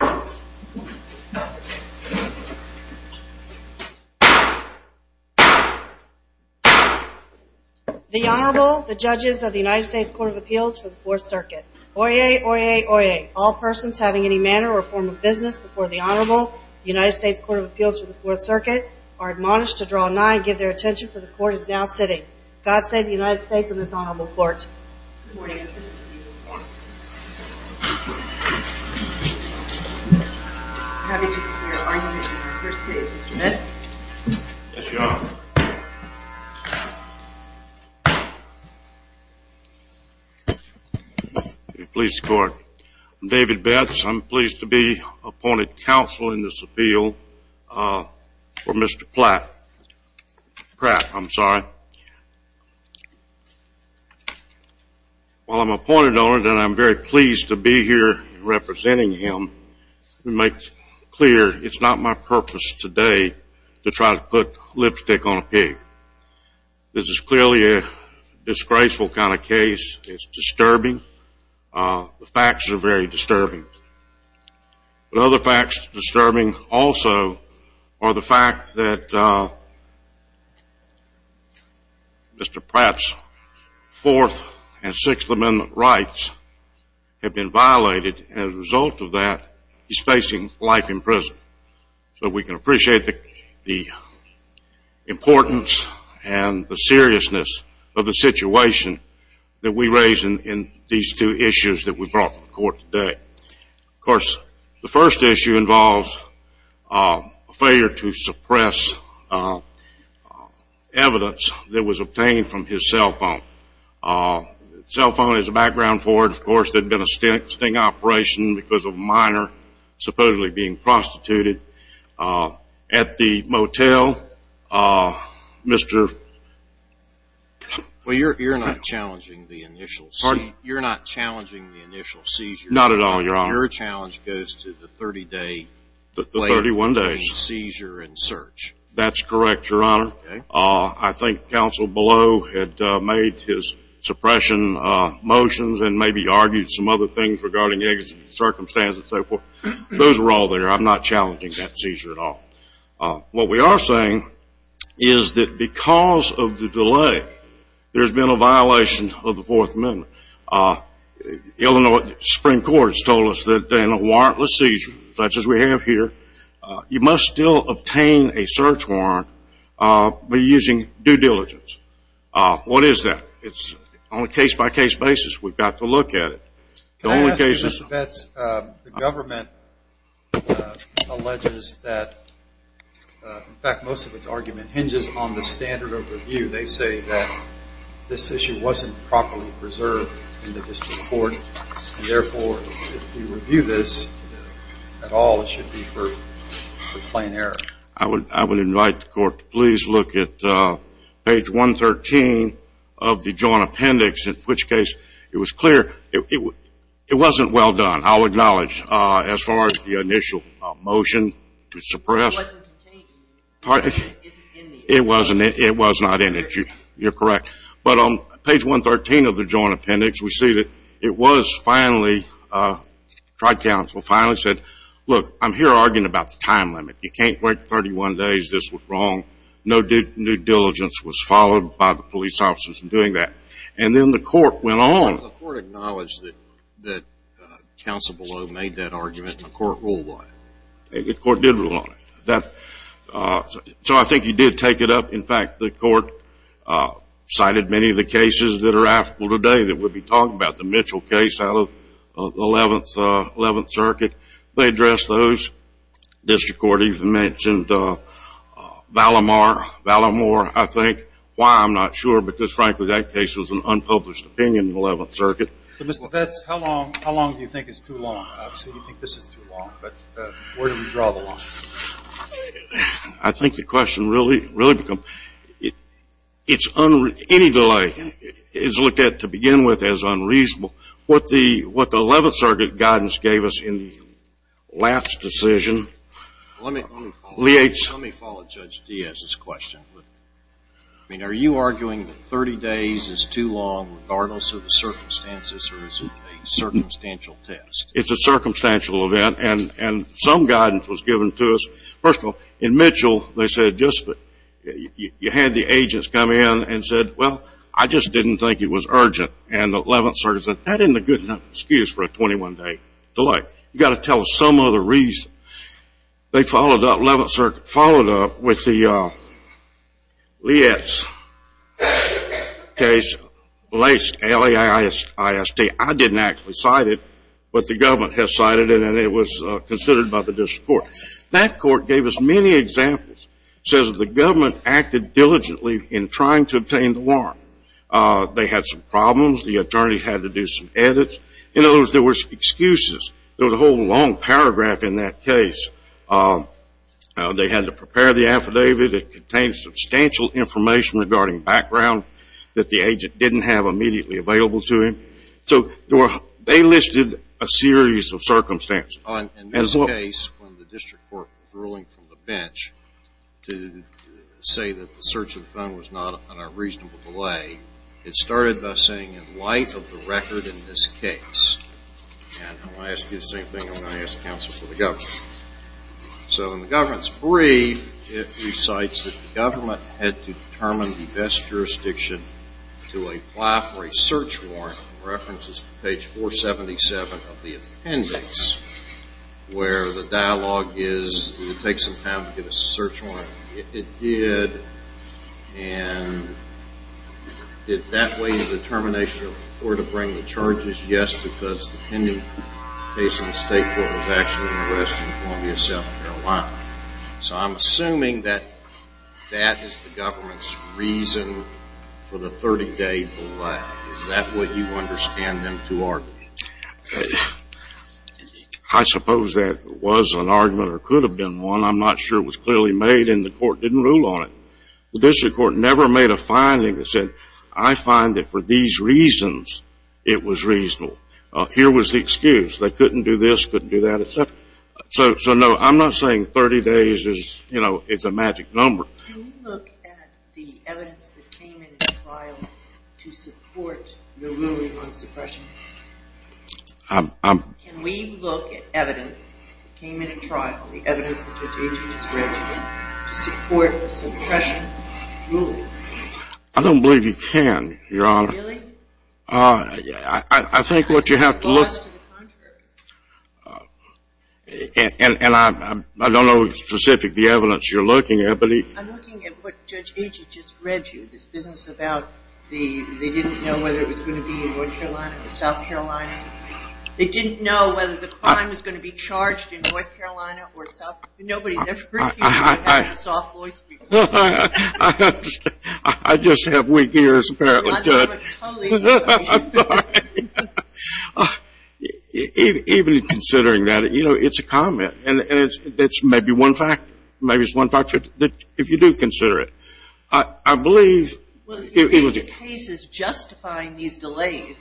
The Honorable, the Judges of the United States Court of Appeals for the 4th Circuit. Oyez, oyez, oyez. All persons having any manner or form of business before the Honorable, United States Court of Appeals for the 4th Circuit are admonished to draw a 9 and give their attention for the Court is now sitting. God save the United States and this Honorable Court. David Betts I'm pleased to be appointed counsel in this appeal for Mr. Pratt. I'm sorry. While I'm appointed owner, I'm very pleased to be here representing him to make clear it's not my purpose today to try to put lipstick on a pig. This is clearly a disgraceful kind of case. It's disturbing. The facts are very disturbing. But other facts disturbing also are the fact that Mr. Pratt's 4th and 6th Amendment rights have been violated and as a result of that, he's facing life in prison. So we can appreciate the importance and the seriousness of the situation that we raise in these two issues that we brought to the Court. Mr. Pratt has a failure to suppress evidence that was obtained from his cell phone. Cell phone is a background for it. Of course, there had been a sting operation because of a minor supposedly being prostituted. At the motel, Mr. Well, you're not challenging the initial seizure. You're not challenging the initial seizure. Not at all, Your Honor. Your challenge goes to the 30-day seizure and search. That's correct, Your Honor. I think counsel below had made his suppression motions and maybe argued some other things regarding circumstances and so forth. Those were all there. I'm not challenging that seizure at all. What we are saying is that because of the delay, there's a warrantless seizure, such as we have here. You must still obtain a search warrant by using due diligence. What is that? It's on a case-by-case basis. We've got to look at it. Can I ask you, Mr. Betz, the government alleges that, in fact, most of its argument hinges on the standard of review. They say that this issue wasn't properly preserved in the District Court. Do you review this at all? It should be for plain error. I would invite the Court to please look at page 113 of the Joint Appendix, in which case it was clear it wasn't well done, I'll acknowledge, as far as the initial motion to suppress. It wasn't contained in the appendix. It wasn't. It was not in it. You're correct. But on page 113 of the Joint Appendix, we see that it was finally, Tri-Council finally said, look, I'm here arguing about the time limit. You can't wait 31 days. This was wrong. No due diligence was followed by the police officers in doing that. And then the Court went on. The Court acknowledged that Council below made that argument. The Court ruled on it. The Court did rule on it. So I think you did take it up. In fact, the Court cited many of the cases that are applicable today that we'll be talking about, the Mitchell case out of the 11th Circuit. They addressed those. The District Court even mentioned Valamore, I think. Why, I'm not sure, because, frankly, that case was an unpublished opinion in the 11th Circuit. So, Mr. Lovetz, how long do you think is too long? Obviously, you think this is too long, but where do we draw the line? I think the question really becomes, any delay is looked at, to begin with, as unreasonable. What the 11th Circuit guidance gave us in the last decision... Let me follow Judge Diaz's question. I mean, are you arguing that 30 days is too long regardless of the circumstances or is it a circumstantial test? It's a circumstantial event, and some guidance was given to us. First of all, in Mitchell, they said, you had the agents come in and said, well, I just didn't think it was urgent. And the 11th Circuit said, that isn't a good enough excuse for a 21-day delay. You've got to tell us some other reason. They followed up, the 11th Circuit followed up with the Leitz case, Leitz, L-A-I-S-T. I didn't actually cite it, but the government did. The government has cited it, and it was considered by the district court. That court gave us many examples. It says the government acted diligently in trying to obtain the warrant. They had some problems. The attorney had to do some edits. In other words, there were excuses. There was a whole long paragraph in that case. They had to prepare the affidavit. It contained substantial information regarding background that the agent didn't have immediately available to him. So they listed a series of circumstances. In this case, when the district court was ruling from the bench to say that the search of the phone was not on a reasonable delay, it started by saying, in light of the record in this case, and I'm going to ask you the same thing I'm going to ask counsel for the government. So in the government's brief, it recites that the government had to determine the best jurisdiction to apply for a search warrant. The reference is to page 477 of the appendix, where the dialogue is, did it take some time to get a search warrant? It did. And did that weigh the determination of where to bring the charges? Yes, because the pending case in the state court was actually an arrest in Columbia, South Carolina. So I'm assuming that that is the government's reason for the 30-day delay. Is that what you understand them to argue? I suppose that was an argument or could have been one. I'm not sure it was clearly made and the court didn't rule on it. The district court never made a finding that said, I find that for these reasons, it was reasonable. Here was the excuse. They had a magic number. Can we look at the evidence that came in the trial to support the ruling on suppression? I don't believe you can, Your Honor. Really? I think what you have to look at is the evidence. And I don't know specifically the evidence you're looking at. I'm looking at what Judge Agee just read you, this business about they didn't know whether it was going to be in North Carolina or South Carolina. They didn't know whether the crime was going to be charged in North Carolina or South Carolina. I just have weak ears, apparently. I'm sorry. Even considering that, you know, it's a comment. And it's maybe one factor. Maybe it's one factor. If you do consider it. I believe... Well, if you think the case is justifying these delays,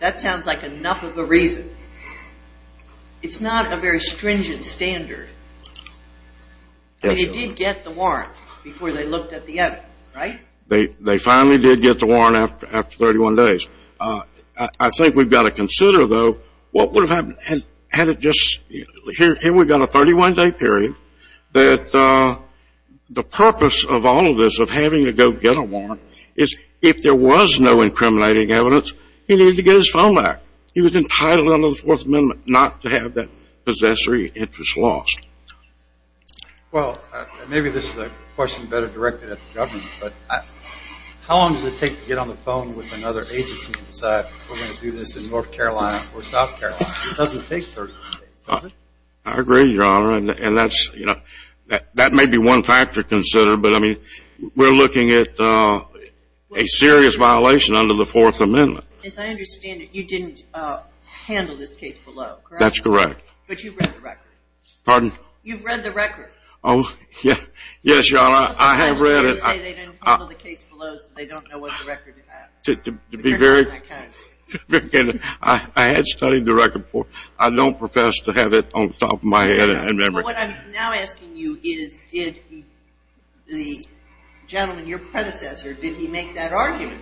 that sounds like enough of a reason. It's not a very stringent standard. They did get the warrant before they looked at the evidence, right? They finally did get the warrant after 31 days. I think we've got to consider, though, what would have happened had it just... Here we've got a 31-day period that the purpose of all of this, of having to go get a warrant, is if there was no incriminating evidence, he needed to get his phone back. He was entitled under the Fourth Amendment not to have that possessory interest lost. Well, maybe this is a question better directed at the government, but how long does it take to get on the phone with another agency and decide we're going to do this in North Carolina or South Carolina? It doesn't take 31 days, does it? I agree, Your Honor, and that may be one factor to consider, but we're looking at a serious violation under the Fourth Amendment. As I understand it, you didn't handle this case below, correct? That's correct. But you've read the record. Pardon? You've read the record. Oh, yes, Your Honor, I have read it. You say they didn't handle the case below so they don't know what the record is. To be very... I had studied the record before. I don't profess to have it on top of my head, I remember. But what I'm now asking you is, did the gentleman, your predecessor, did he make that argument?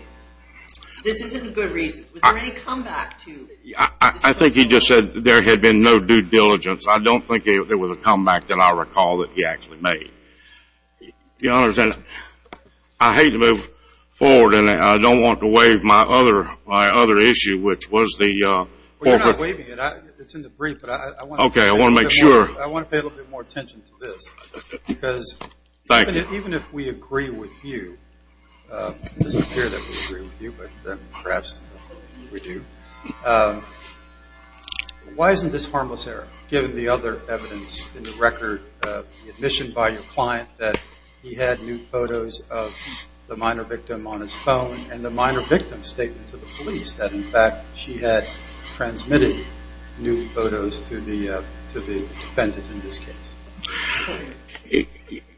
This isn't a good reason. Was there any comeback to... I think he just said there had been no due diligence. I don't think there was a comeback that I recall that he actually made. Your Honor, I hate to move forward and I don't want to waive my other issue, which was the... Well, you're not waiving it. It's in the brief, but I want to... Okay, I want to make sure. I want to pay a little bit more attention to this because... Thank you. Even if we agree with you, it doesn't appear that we agree with you, but perhaps we do. Why isn't this harmless error, given the other evidence in the record, the admission by your client that he had nude photos of the minor victim on his phone and the minor victim's statement to the police that, in fact, she had transmitted nude photos to the defendant in this case?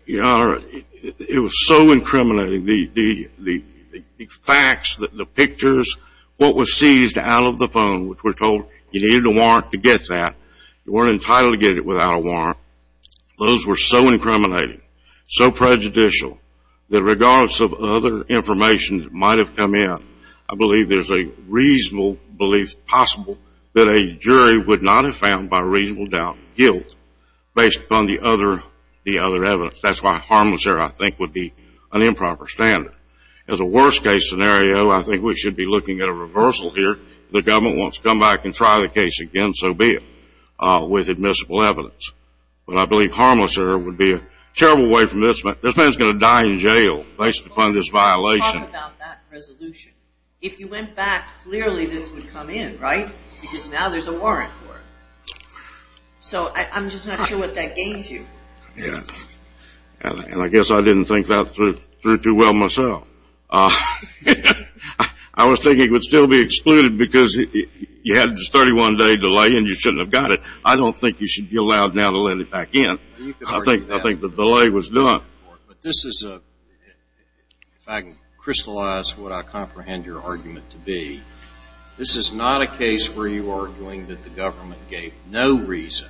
Your Honor, it was so incriminating. The facts, the pictures, what was seized out of the phone, which we're told you needed a warrant to get that. You weren't entitled to get it without a warrant. Those were so incriminating, so prejudicial, that regardless of other information that might have come in, I believe there's a reasonable belief, possible, that a jury would not have found, by reasonable doubt, guilt based upon the other evidence. That's why harmless error, I think, would be an improper standard. As a worst-case scenario, I think we should be looking at a reversal here. If the government wants to come back and try the case again, so be it, with admissible evidence. But I believe harmless error would be a terrible way from this. This man's going to die in jail based upon this violation. Let's talk about that resolution. If you went back, clearly this would come in, right? Because now there's a warrant for it. So I'm just not sure what that gains you. Yeah. And I guess I didn't think that through too well myself. I was thinking it would still be excluded because you had this 31-day delay and you shouldn't have got it. I don't think you should be allowed now to let it back in. I think the delay was done. But this is a, if I can crystallize what I comprehend your argument to be, this is not a case where you are arguing that the government gave no reason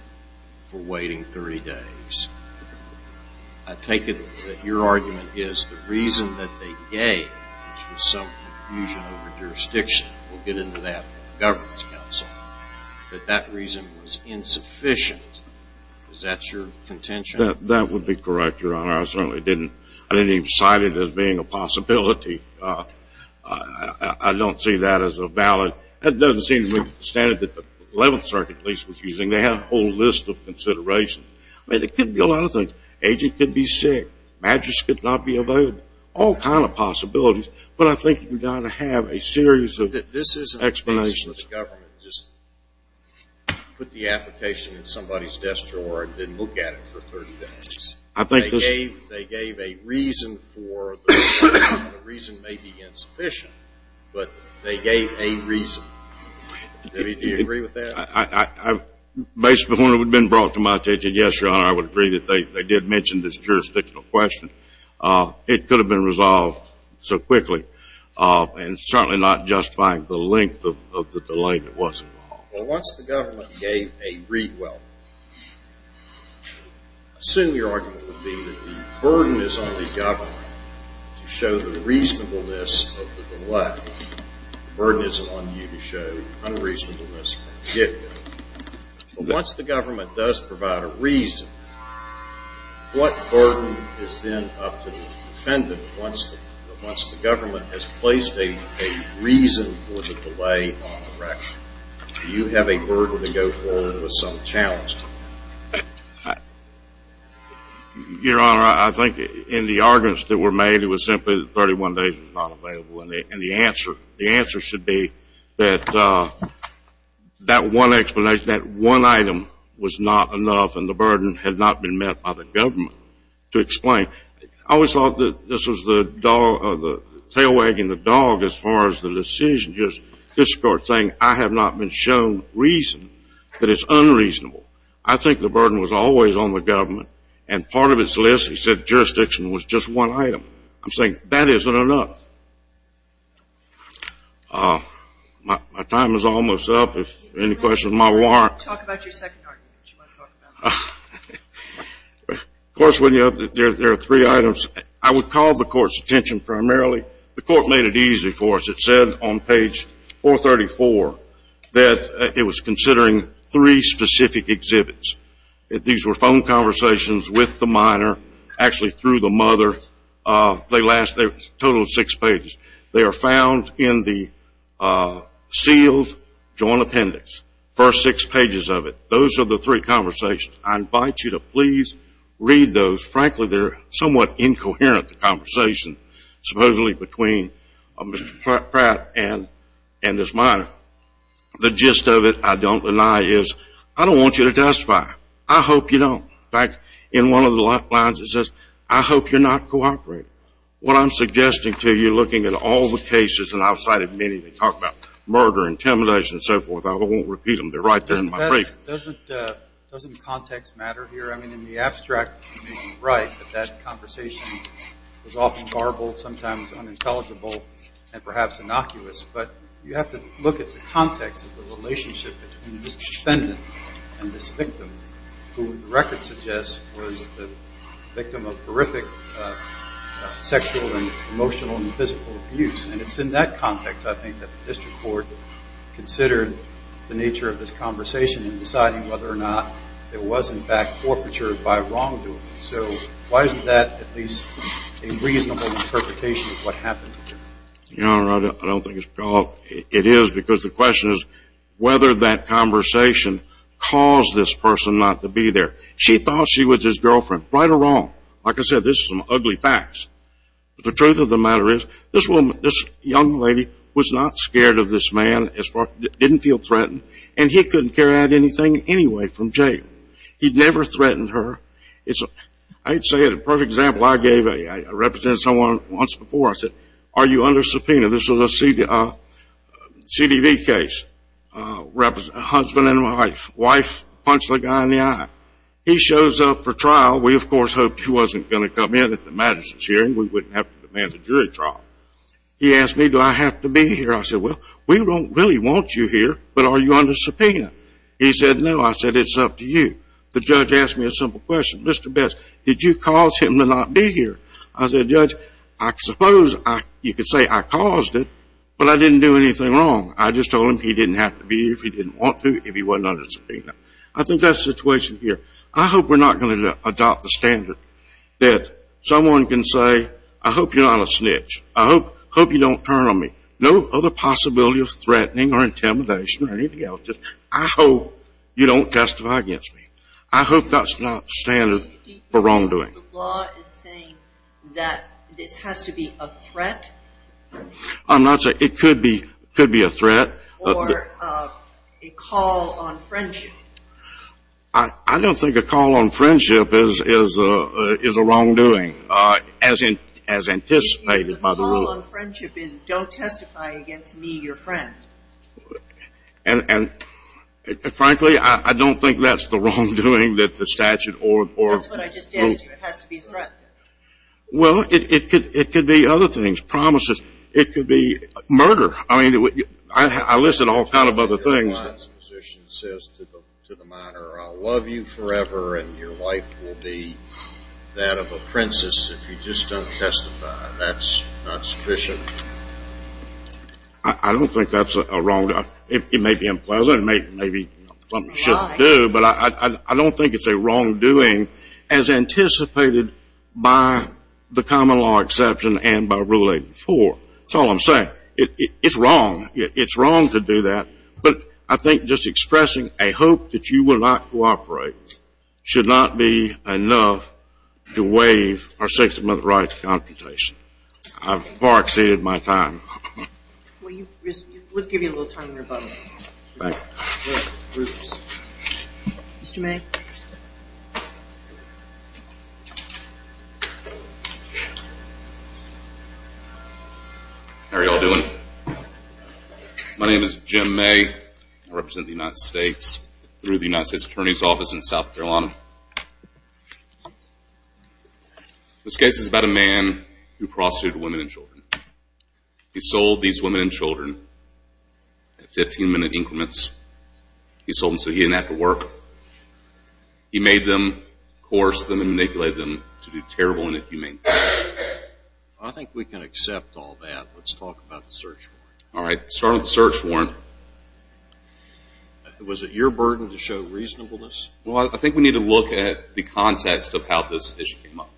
for waiting 30 days. I take it that your argument is the reason that they gave, which was some confusion over jurisdiction. We'll get into that with the Governance Council. But that reason was insufficient. That would be correct, Your Honor. I certainly didn't. I didn't even cite it as being a possibility. I don't see that as a valid. That doesn't seem to me to be the standard that the 11th Circuit at least was using. They had a whole list of considerations. I mean, it could be a lot of things. Agent could be sick. Badgers could not be evaded. All kind of possibilities. But I think you've got to have a series of explanations. This isn't a case where the government just put the application in somebody's desk drawer and didn't look at it for 30 days. They gave a reason for the delay. The reason may be insufficient, but they gave a reason. Do you agree with that? Based on what had been brought to my attention, yes, Your Honor, I would agree that they did mention this jurisdictional question. It could have been resolved so quickly, and certainly not justifying the length of the delay that was involved. Well, once the government gave a read well, I assume your argument would be that the burden is on the government to show the reasonableness of the delay. The burden is on you to show unreasonableness. But once the government does provide a reason, what burden is then up to the defendant once the government has placed a reason for the delay on the record? Do you have a burden to go forward with some challenge? Your Honor, I think in the arguments that were made, it was simply that 31 days was not available. And the answer should be that that one explanation, that one item was not enough, and the burden had not been met by the government to explain. I always thought that this was the tail wagging the dog as far as the decision. Just this Court saying, I have not been shown reason that it's unreasonable. I think the burden was always on the government, and part of its list, he said, jurisdiction was just one item. I'm saying that isn't enough. My time is almost up. If there are any questions, my alarm. Talk about your second argument. Of course, there are three items. I would call the Court's attention primarily. The Court made it easy for us. It said on page 434 that it was considering three specific exhibits. These were phone conversations with the minor, actually through the mother. They last a total of six pages. They are found in the sealed joint appendix, first six pages of it. Those are the three conversations. I invite you to please read those. Frankly, they're somewhat incoherent, the conversation supposedly between Mr. Pratt and this minor. The gist of it, I don't deny, is I don't want you to testify. I hope you don't. In fact, in one of the lifelines, it says, I hope you're not cooperating. What I'm suggesting to you, looking at all the cases, and I've cited many that talk about murder, intimidation, and so forth, I won't repeat them. They're right there in my brief. Doesn't context matter here? I mean, in the abstract, you're right that that conversation is often horrible, sometimes unintelligible, and perhaps innocuous. But you have to look at the context of the relationship between this defendant and this victim, who the record suggests was the victim of horrific sexual and emotional and physical abuse. And it's in that context, I think, that the district court considered the nature of this conversation in deciding whether or not there was, in fact, forfeiture by wrongdoing. So why isn't that at least a reasonable interpretation of what happened here? I don't think it is because the question is whether that conversation caused this person not to be there. She thought she was his girlfriend, right or wrong. Like I said, this is some ugly facts. But the truth of the matter is this young lady was not scared of this man, didn't feel threatened, and he couldn't carry out anything anyway from jail. He'd never threatened her. I'd say a perfect example I gave, I represented someone once before, I said, are you under subpoena? This was a CDV case, husband and wife, wife punched the guy in the eye. He shows up for trial. We, of course, hoped he wasn't going to come in at the Madison's hearing. We wouldn't have to demand a jury trial. He asked me, do I have to be here? I said, well, we don't really want you here, but are you under subpoena? He said, no. I said, it's up to you. The judge asked me a simple question, Mr. Best, did you cause him to not be here? I said, Judge, I suppose you could say I caused it, but I didn't do anything wrong. I just told him he didn't have to be here if he didn't want to, if he wasn't under subpoena. I think that's the situation here. I hope we're not going to adopt the standard that someone can say, I hope you're not a snitch. I hope you don't turn on me. No other possibility of threatening or intimidation or anything else. I hope you don't testify against me. I hope that's not standard for wrongdoing. The law is saying that this has to be a threat. I'm not saying it could be a threat. Or a call on friendship. I don't think a call on friendship is a wrongdoing as anticipated by the rule. A call on friendship is, don't testify against me, your friend. And frankly, I don't think that's the wrongdoing that the statute or... That's what I just said to you. It has to be a threat. Well, it could be other things. Promises. It could be murder. I mean, I listed all kinds of other things. The position says to the minor, I'll love you forever and your wife will be that of a princess if you just don't testify. That's not sufficient. I don't think that's a wrongdoing. It may be unpleasant. It may be something you shouldn't do. But I don't think it's a wrongdoing as anticipated by the common law exception and by Rule 84. That's all I'm saying. It's wrong. It's wrong to do that. But I think just expressing a hope that you will not cooperate should not be enough to waive our 60-month right to consultation. I've far exceeded my time. We'll give you a little time in your bucket. Thank you. Mr. May? How are you all doing? My name is Jim May. I represent the United States through the United States Attorney's Office in South Carolina. This case is about a man who prostituted women and children. He sold these women and children at 15-minute increments. He sold them so he didn't have to work. He made them, coerced them, and manipulated them to do terrible and inhumane things. I think we can accept all that. Let's talk about the search warrant. All right. Starting with the search warrant. Was it your burden to show reasonableness? Well, I think we need to look at the context of how this issue came up.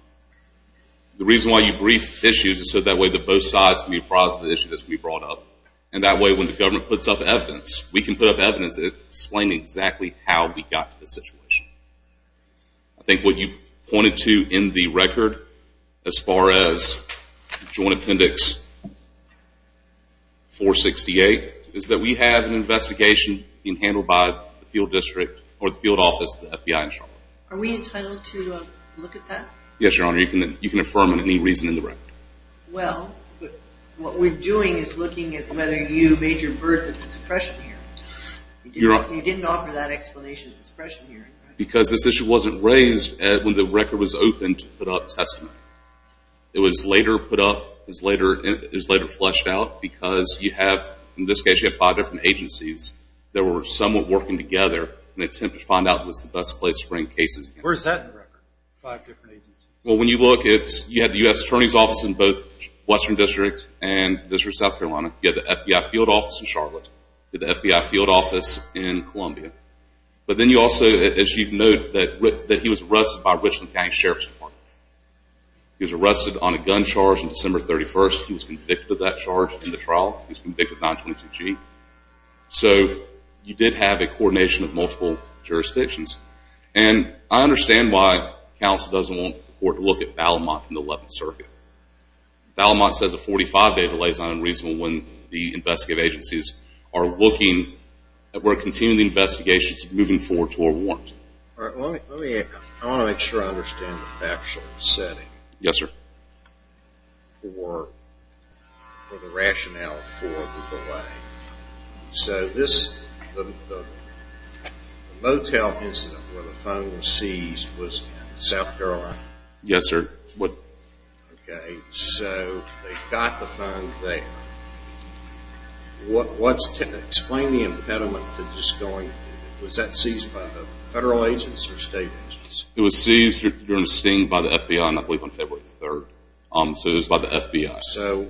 The reason why you brief issues is so that way both sides can be apprised of the issue that's being brought up. And that way when the government puts up evidence, we can put up evidence that explains exactly how we got to this situation. I think what you pointed to in the record as far as Joint Appendix 468 is that we have an investigation being handled by the field district or the field office of the FBI in Charlotte. Are we entitled to look at that? Yes, Your Honor. You can affirm any reason in the record. Well, what we're doing is looking at whether you made your berth at the suppression hearing. You didn't offer that explanation at the suppression hearing. Because this issue wasn't raised when the record was opened to put up testimony. It was later put up, it was later fleshed out because you have, in this case, you have five different agencies that were somewhat working together in an attempt to find out what's the best place to bring cases. Where's that in the record, five different agencies? Well, when you look, you have the U.S. Attorney's Office in both Western District and District of South Carolina. You have the FBI field office in Charlotte. You have the FBI field office in Columbia. But then you also, as you note, that he was arrested by Richland County Sheriff's Department. He was arrested on a gun charge on December 31st. He was convicted of that charge in the trial. He was convicted of 922G. So you did have a coordination of multiple jurisdictions. And I understand why counsel doesn't want the court to look at Valmont from the 11th Circuit. Valmont says a 45-day delay is not unreasonable when the investigative agencies are looking at where to continue the investigations moving forward toward warrants. All right, let me, I want to make sure I understand the factual setting. Yes, sir. For the rationale for the delay. So this, the motel incident where the phone was seized was in South Carolina? Yes, sir. Okay, so they got the phone there. What's, explain the impediment to this going, was that seized by the federal agents or state agents? It was seized, you understand, by the FBI, I believe on February 3rd. So it was by the FBI. So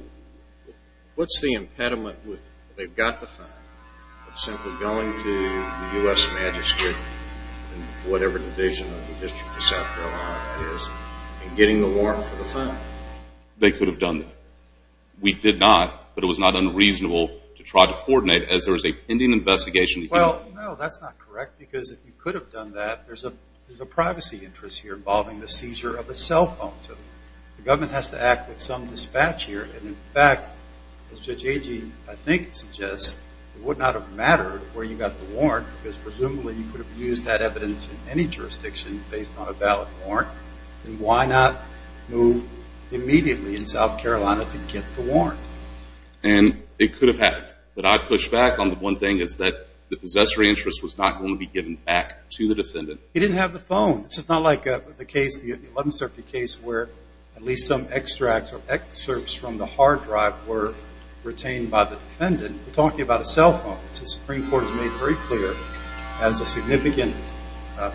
what's the impediment with, they've got the phone, but simply going to the U.S. Magistrate and whatever the division of the District of South Carolina is and getting the warrant for the phone? They could have done that. We did not, but it was not unreasonable to try to coordinate as there was a pending investigation. Well, no, that's not correct because if you could have done that, there's a privacy interest here involving the seizure of a cell phone. So the government has to act with some dispatch here. And, in fact, as Judge Agee, I think, suggests, it would not have mattered where you got the warrant because presumably you could have used that evidence in any jurisdiction based on a valid warrant. Then why not move immediately in South Carolina to get the warrant? And it could have happened. But I push back on the one thing is that the possessory interest was not going to be given back to the defendant. He didn't have the phone. This is not like the case, the 11th Circuit case, where at least some extracts or excerpts from the hard drive were retained by the defendant. We're talking about a cell phone. The Supreme Court has made it very clear it has a significant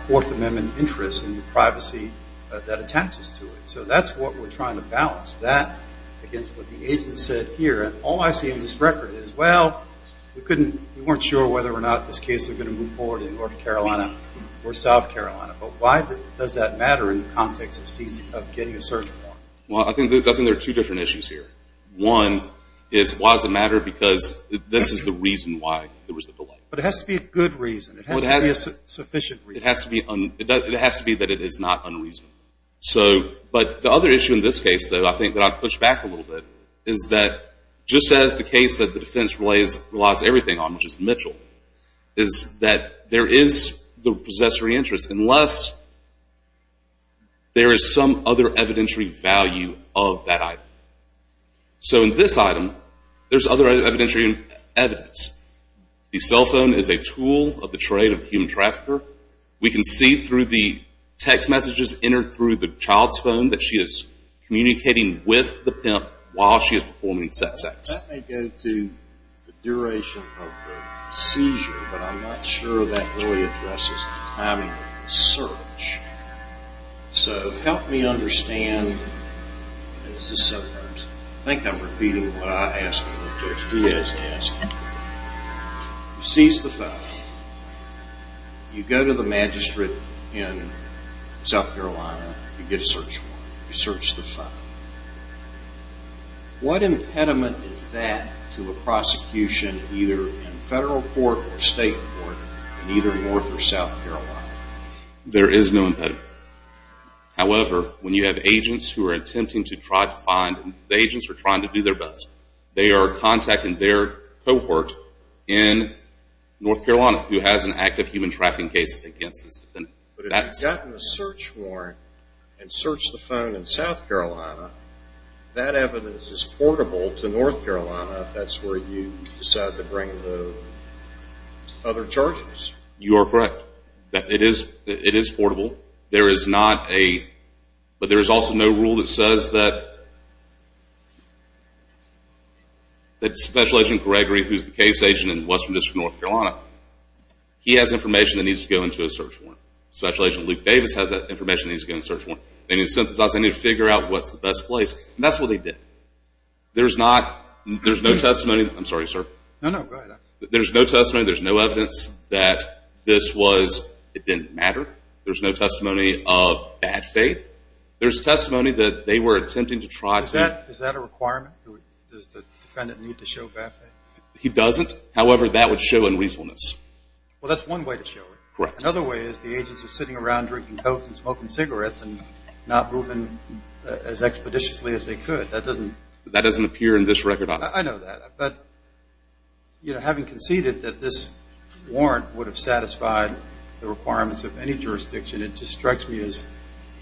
Fourth Amendment interest in the privacy that attaches to it. So that's what we're trying to balance, that against what the agent said here. And all I see in this record is, well, we weren't sure whether or not this case was going to move forward in North Carolina or South Carolina, but why does that matter in the context of getting a search warrant? Well, I think there are two different issues here. One is why does it matter because this is the reason why there was a delay. But it has to be a good reason. It has to be a sufficient reason. It has to be that it is not unreasonable. But the other issue in this case, though, I think that I push back a little bit, is that just as the case that the defense relies everything on, which is Mitchell, is that there is the possessory interest unless there is some other evidentiary value of that item. So in this item, there's other evidentiary evidence. The cell phone is a tool of the trade of the human trafficker. We can see through the text messages entered through the child's phone that she is communicating with the pimp while she is performing sex acts. That may go to the duration of the seizure, but I'm not sure that really addresses the timing of the search. So help me understand. This is seven times. I think I'm repeating what I asked him to do. He is asking. You seize the phone. You go to the magistrate in South Carolina. You get a search warrant. You search the phone. What impediment is that to a prosecution either in federal court or state court in either North or South Carolina? There is no impediment. However, when you have agents who are attempting to try to find, the agents are trying to do their best. They are contacting their cohort in North Carolina who has an active human trafficking case against this defendant. But if you've gotten a search warrant and searched the phone in South Carolina, that evidence is portable to North Carolina if that's where you decide to bring the other charges. You are correct. It is portable. There is not a, but there is also no rule that says that Special Agent Gregory, who is the case agent in Western District, North Carolina, he has information that needs to go into a search warrant. Special Agent Luke Davis has information that needs to go into a search warrant. They need to synthesize. They need to figure out what's the best place. And that's what they did. There's no testimony. I'm sorry, sir. No, no. Go ahead. There's no testimony. There's no evidence that this was, it didn't matter. There's no testimony of bad faith. There's testimony that they were attempting to try to. Is that a requirement? Does the defendant need to show bad faith? He doesn't. However, that would show unreasonableness. Well, that's one way to show it. Correct. Another way is the agents are sitting around drinking cokes and smoking cigarettes and not moving as expeditiously as they could. That doesn't appear in this record. I know that. But, you know, having conceded that this warrant would have satisfied the requirements of any jurisdiction, it just strikes me as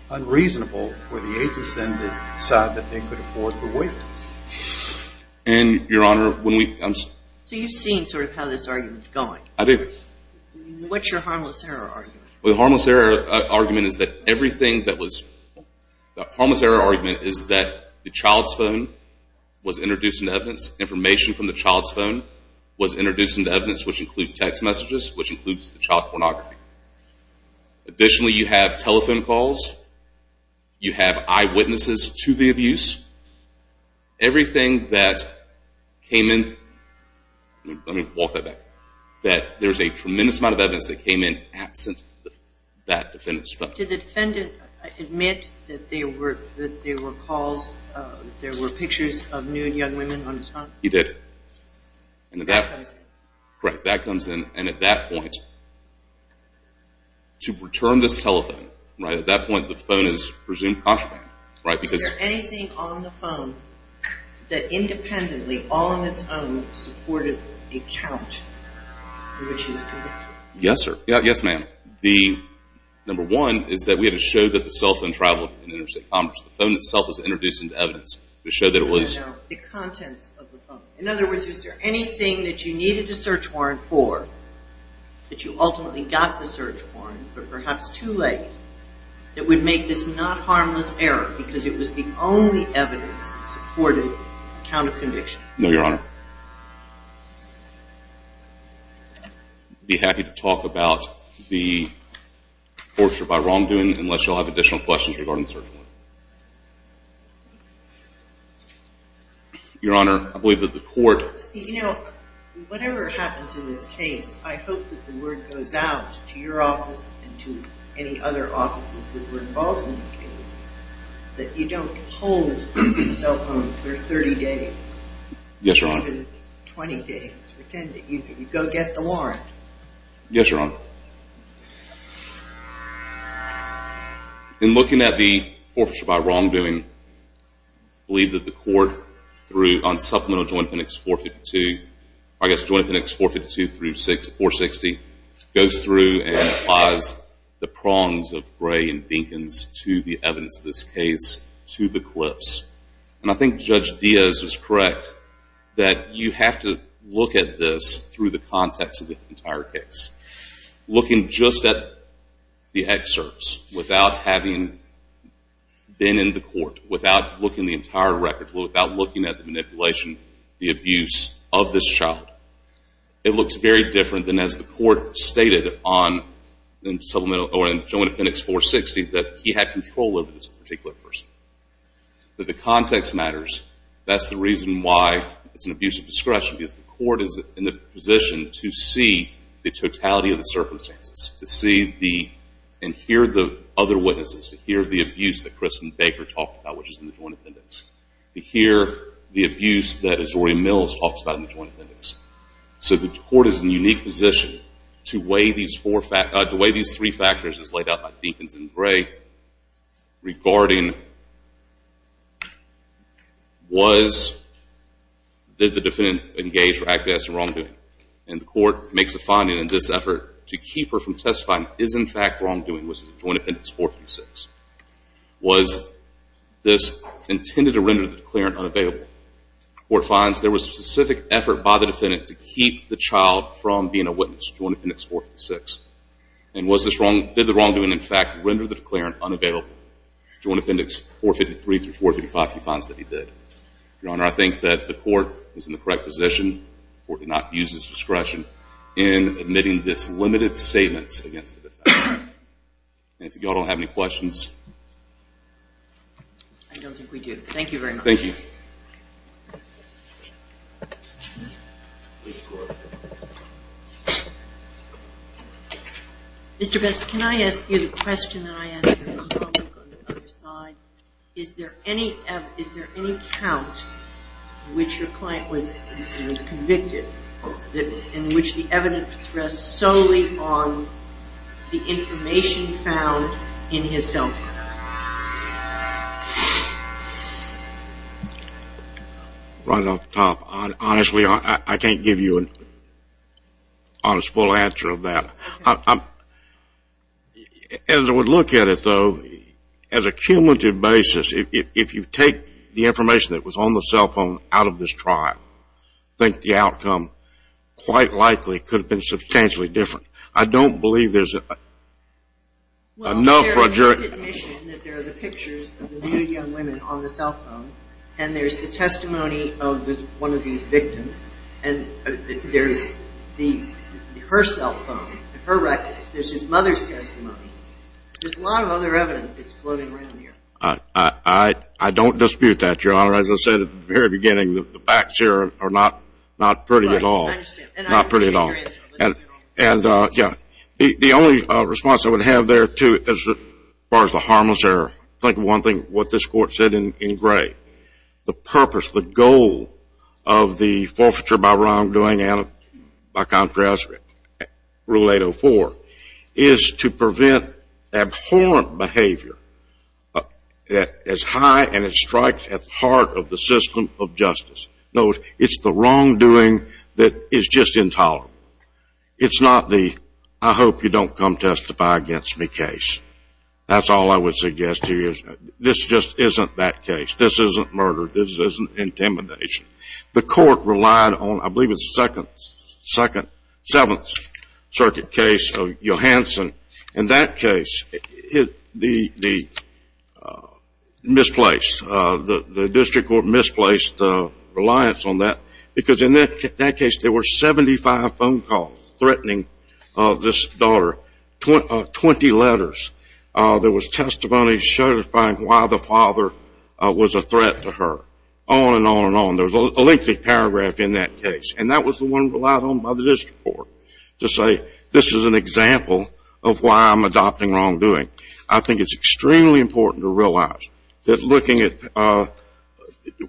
unreasonable for the agents then to decide that they could afford to wait. And, Your Honor, when we – So you've seen sort of how this argument's going. I do. What's your harmless error argument? Well, the harmless error argument is that everything that was – the harmless error argument is that the child's phone was introduced into evidence, information from the child's phone was introduced into evidence, which include text messages, which includes the child pornography. Additionally, you have telephone calls. You have eyewitnesses to the abuse. Everything that came in – let me walk that back – that there's a tremendous amount of evidence that came in absent that defendant's phone. Did the defendant admit that there were calls, that there were pictures of nude young women on his phone? And at that point – That comes in. To return this telephone, right, at that point the phone is presumed contraband, right, because – Was there anything on the phone that independently, all on its own, supported a count in which he was convicted? Yes, sir. Yes, ma'am. The – number one is that we had to show that the cell phone traveled in interstate commerce. The phone itself was introduced into evidence to show that it was – No, no. The contents of the phone. In other words, is there anything that you needed a search warrant for, that you ultimately got the search warrant for perhaps too late, that would make this not harmless error because it was the only evidence that supported a count of conviction? No, Your Honor. I'd be happy to talk about the torture by wrongdoing unless you all have additional questions regarding the search warrant. Your Honor, I believe that the court – You know, whatever happens in this case, I hope that the word goes out to your office and to any other offices that were involved in this case that you don't hold cell phones for 30 days. Yes, Your Honor. Even 20 days. Pretend that you go get the warrant. Yes, Your Honor. Well, in looking at the torture by wrongdoing, I believe that the court through – on supplemental Joint Appendix 452 – I guess Joint Appendix 452 through 460 goes through and applies the prongs of Gray and Dinkins to the evidence of this case to the clips. And I think Judge Diaz is correct that you have to look at this through the context of the entire case. Looking just at the excerpts without having been in the court, without looking at the entire record, without looking at the manipulation, the abuse of this child, it looks very different than as the court stated on the supplemental Joint Appendix 460 that he had control over this particular person. But the context matters. The court is in the position to see the totality of the circumstances, to see and hear the other witnesses, to hear the abuse that Kristen Baker talked about, which is in the Joint Appendix, to hear the abuse that Azori Mills talks about in the Joint Appendix. So the court is in a unique position to weigh these three factors as laid out by Dinkins and Gray regarding did the defendant engage or act as a wrongdoing. And the court makes a finding in this effort to keep her from testifying, is in fact wrongdoing, which is Joint Appendix 456. Was this intended to render the declarant unavailable? The court finds there was specific effort by the defendant to keep the child from being a witness, Joint Appendix 456. And did the wrongdoing, in fact, render the declarant unavailable? Joint Appendix 453 through 455, he finds that he did. Your Honor, I think that the court is in the correct position, the court did not use his discretion in admitting this limited statement against the defendant. And if you all don't have any questions. I don't think we do. Thank you very much. Thank you. Mr. Betz, can I ask you the question that I asked your colleague on the other side? Is there any count in which your client was convicted in which the evidence rests solely on the information found in his cell phone? Right off the top. Honestly, I can't give you an honest, full answer of that. As I would look at it, though, as a cumulative basis, if you take the information that was on the cell phone out of this trial, I think the outcome quite likely could have been substantially different. I don't believe there's enough. Well, there's his admission that there are the pictures of the new young women on the cell phone, and there's the testimony of one of these victims, and there's her cell phone, her records. There's his mother's testimony. There's a lot of other evidence that's floating around here. I don't dispute that, Your Honor. As I said at the very beginning, the facts here are not pretty at all. Right, I understand. Not pretty at all. And, yeah, the only response I would have there, too, as far as the harmless error, think of one thing, what this Court said in gray. The purpose, the goal of the forfeiture by wrongdoing and, by contrast, Rule 804, is to prevent abhorrent behavior that is high and it strikes at the heart of the system of justice. No, it's the wrongdoing that is just intolerable. It's not the, I hope you don't come testify against me case. That's all I would suggest to you. This just isn't that case. This isn't murder. This isn't intimidation. The Court relied on, I believe it's the Second, Seventh Circuit case of Johanson. In that case, the misplaced, the district court misplaced the reliance on that, because in that case there were 75 phone calls threatening this daughter, 20 letters. There was testimony certifying why the father was a threat to her, on and on and on. There was a lengthy paragraph in that case. And that was the one relied on by the district court to say this is an example of why I'm adopting wrongdoing. I think it's extremely important to realize that looking at,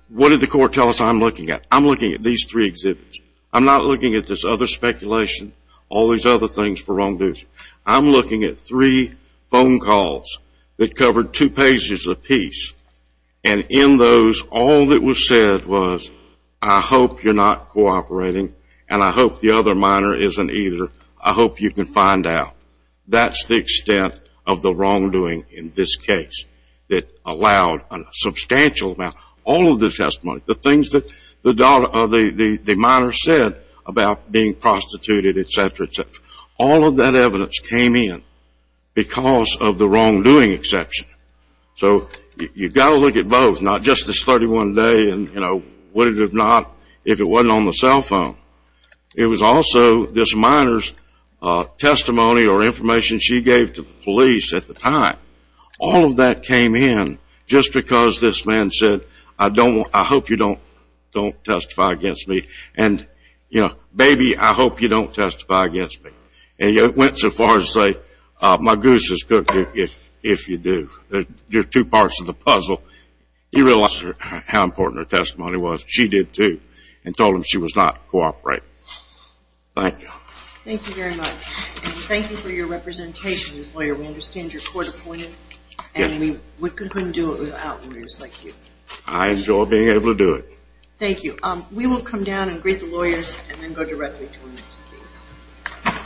what did the Court tell us I'm looking at? I'm looking at these three exhibits. I'm not looking at this other speculation, all these other things for wrongdoers. I'm looking at three phone calls that covered two pages apiece. And in those, all that was said was, I hope you're not cooperating, and I hope the other minor isn't either. I hope you can find out. That's the extent of the wrongdoing in this case that allowed a substantial amount, all of the testimony, the things that the minor said about being prostituted, et cetera, et cetera. All of that evidence came in because of the wrongdoing exception. So you've got to look at both, not just this 31 day and, you know, would it have not if it wasn't on the cell phone. It was also this minor's testimony or information she gave to the police at the time. All of that came in just because this man said, I hope you don't testify against me. And, you know, baby, I hope you don't testify against me. And he went so far as to say, my goose is cooked if you do. There's two parts to the puzzle. He realized how important her testimony was. She did too and told him she was not cooperating. Thank you. Thank you very much. And thank you for your representation as lawyer. We understand you're court appointed. And we couldn't do it without lawyers like you. I enjoy being able to do it. Thank you. We will come down and greet the lawyers and then go directly to the next case.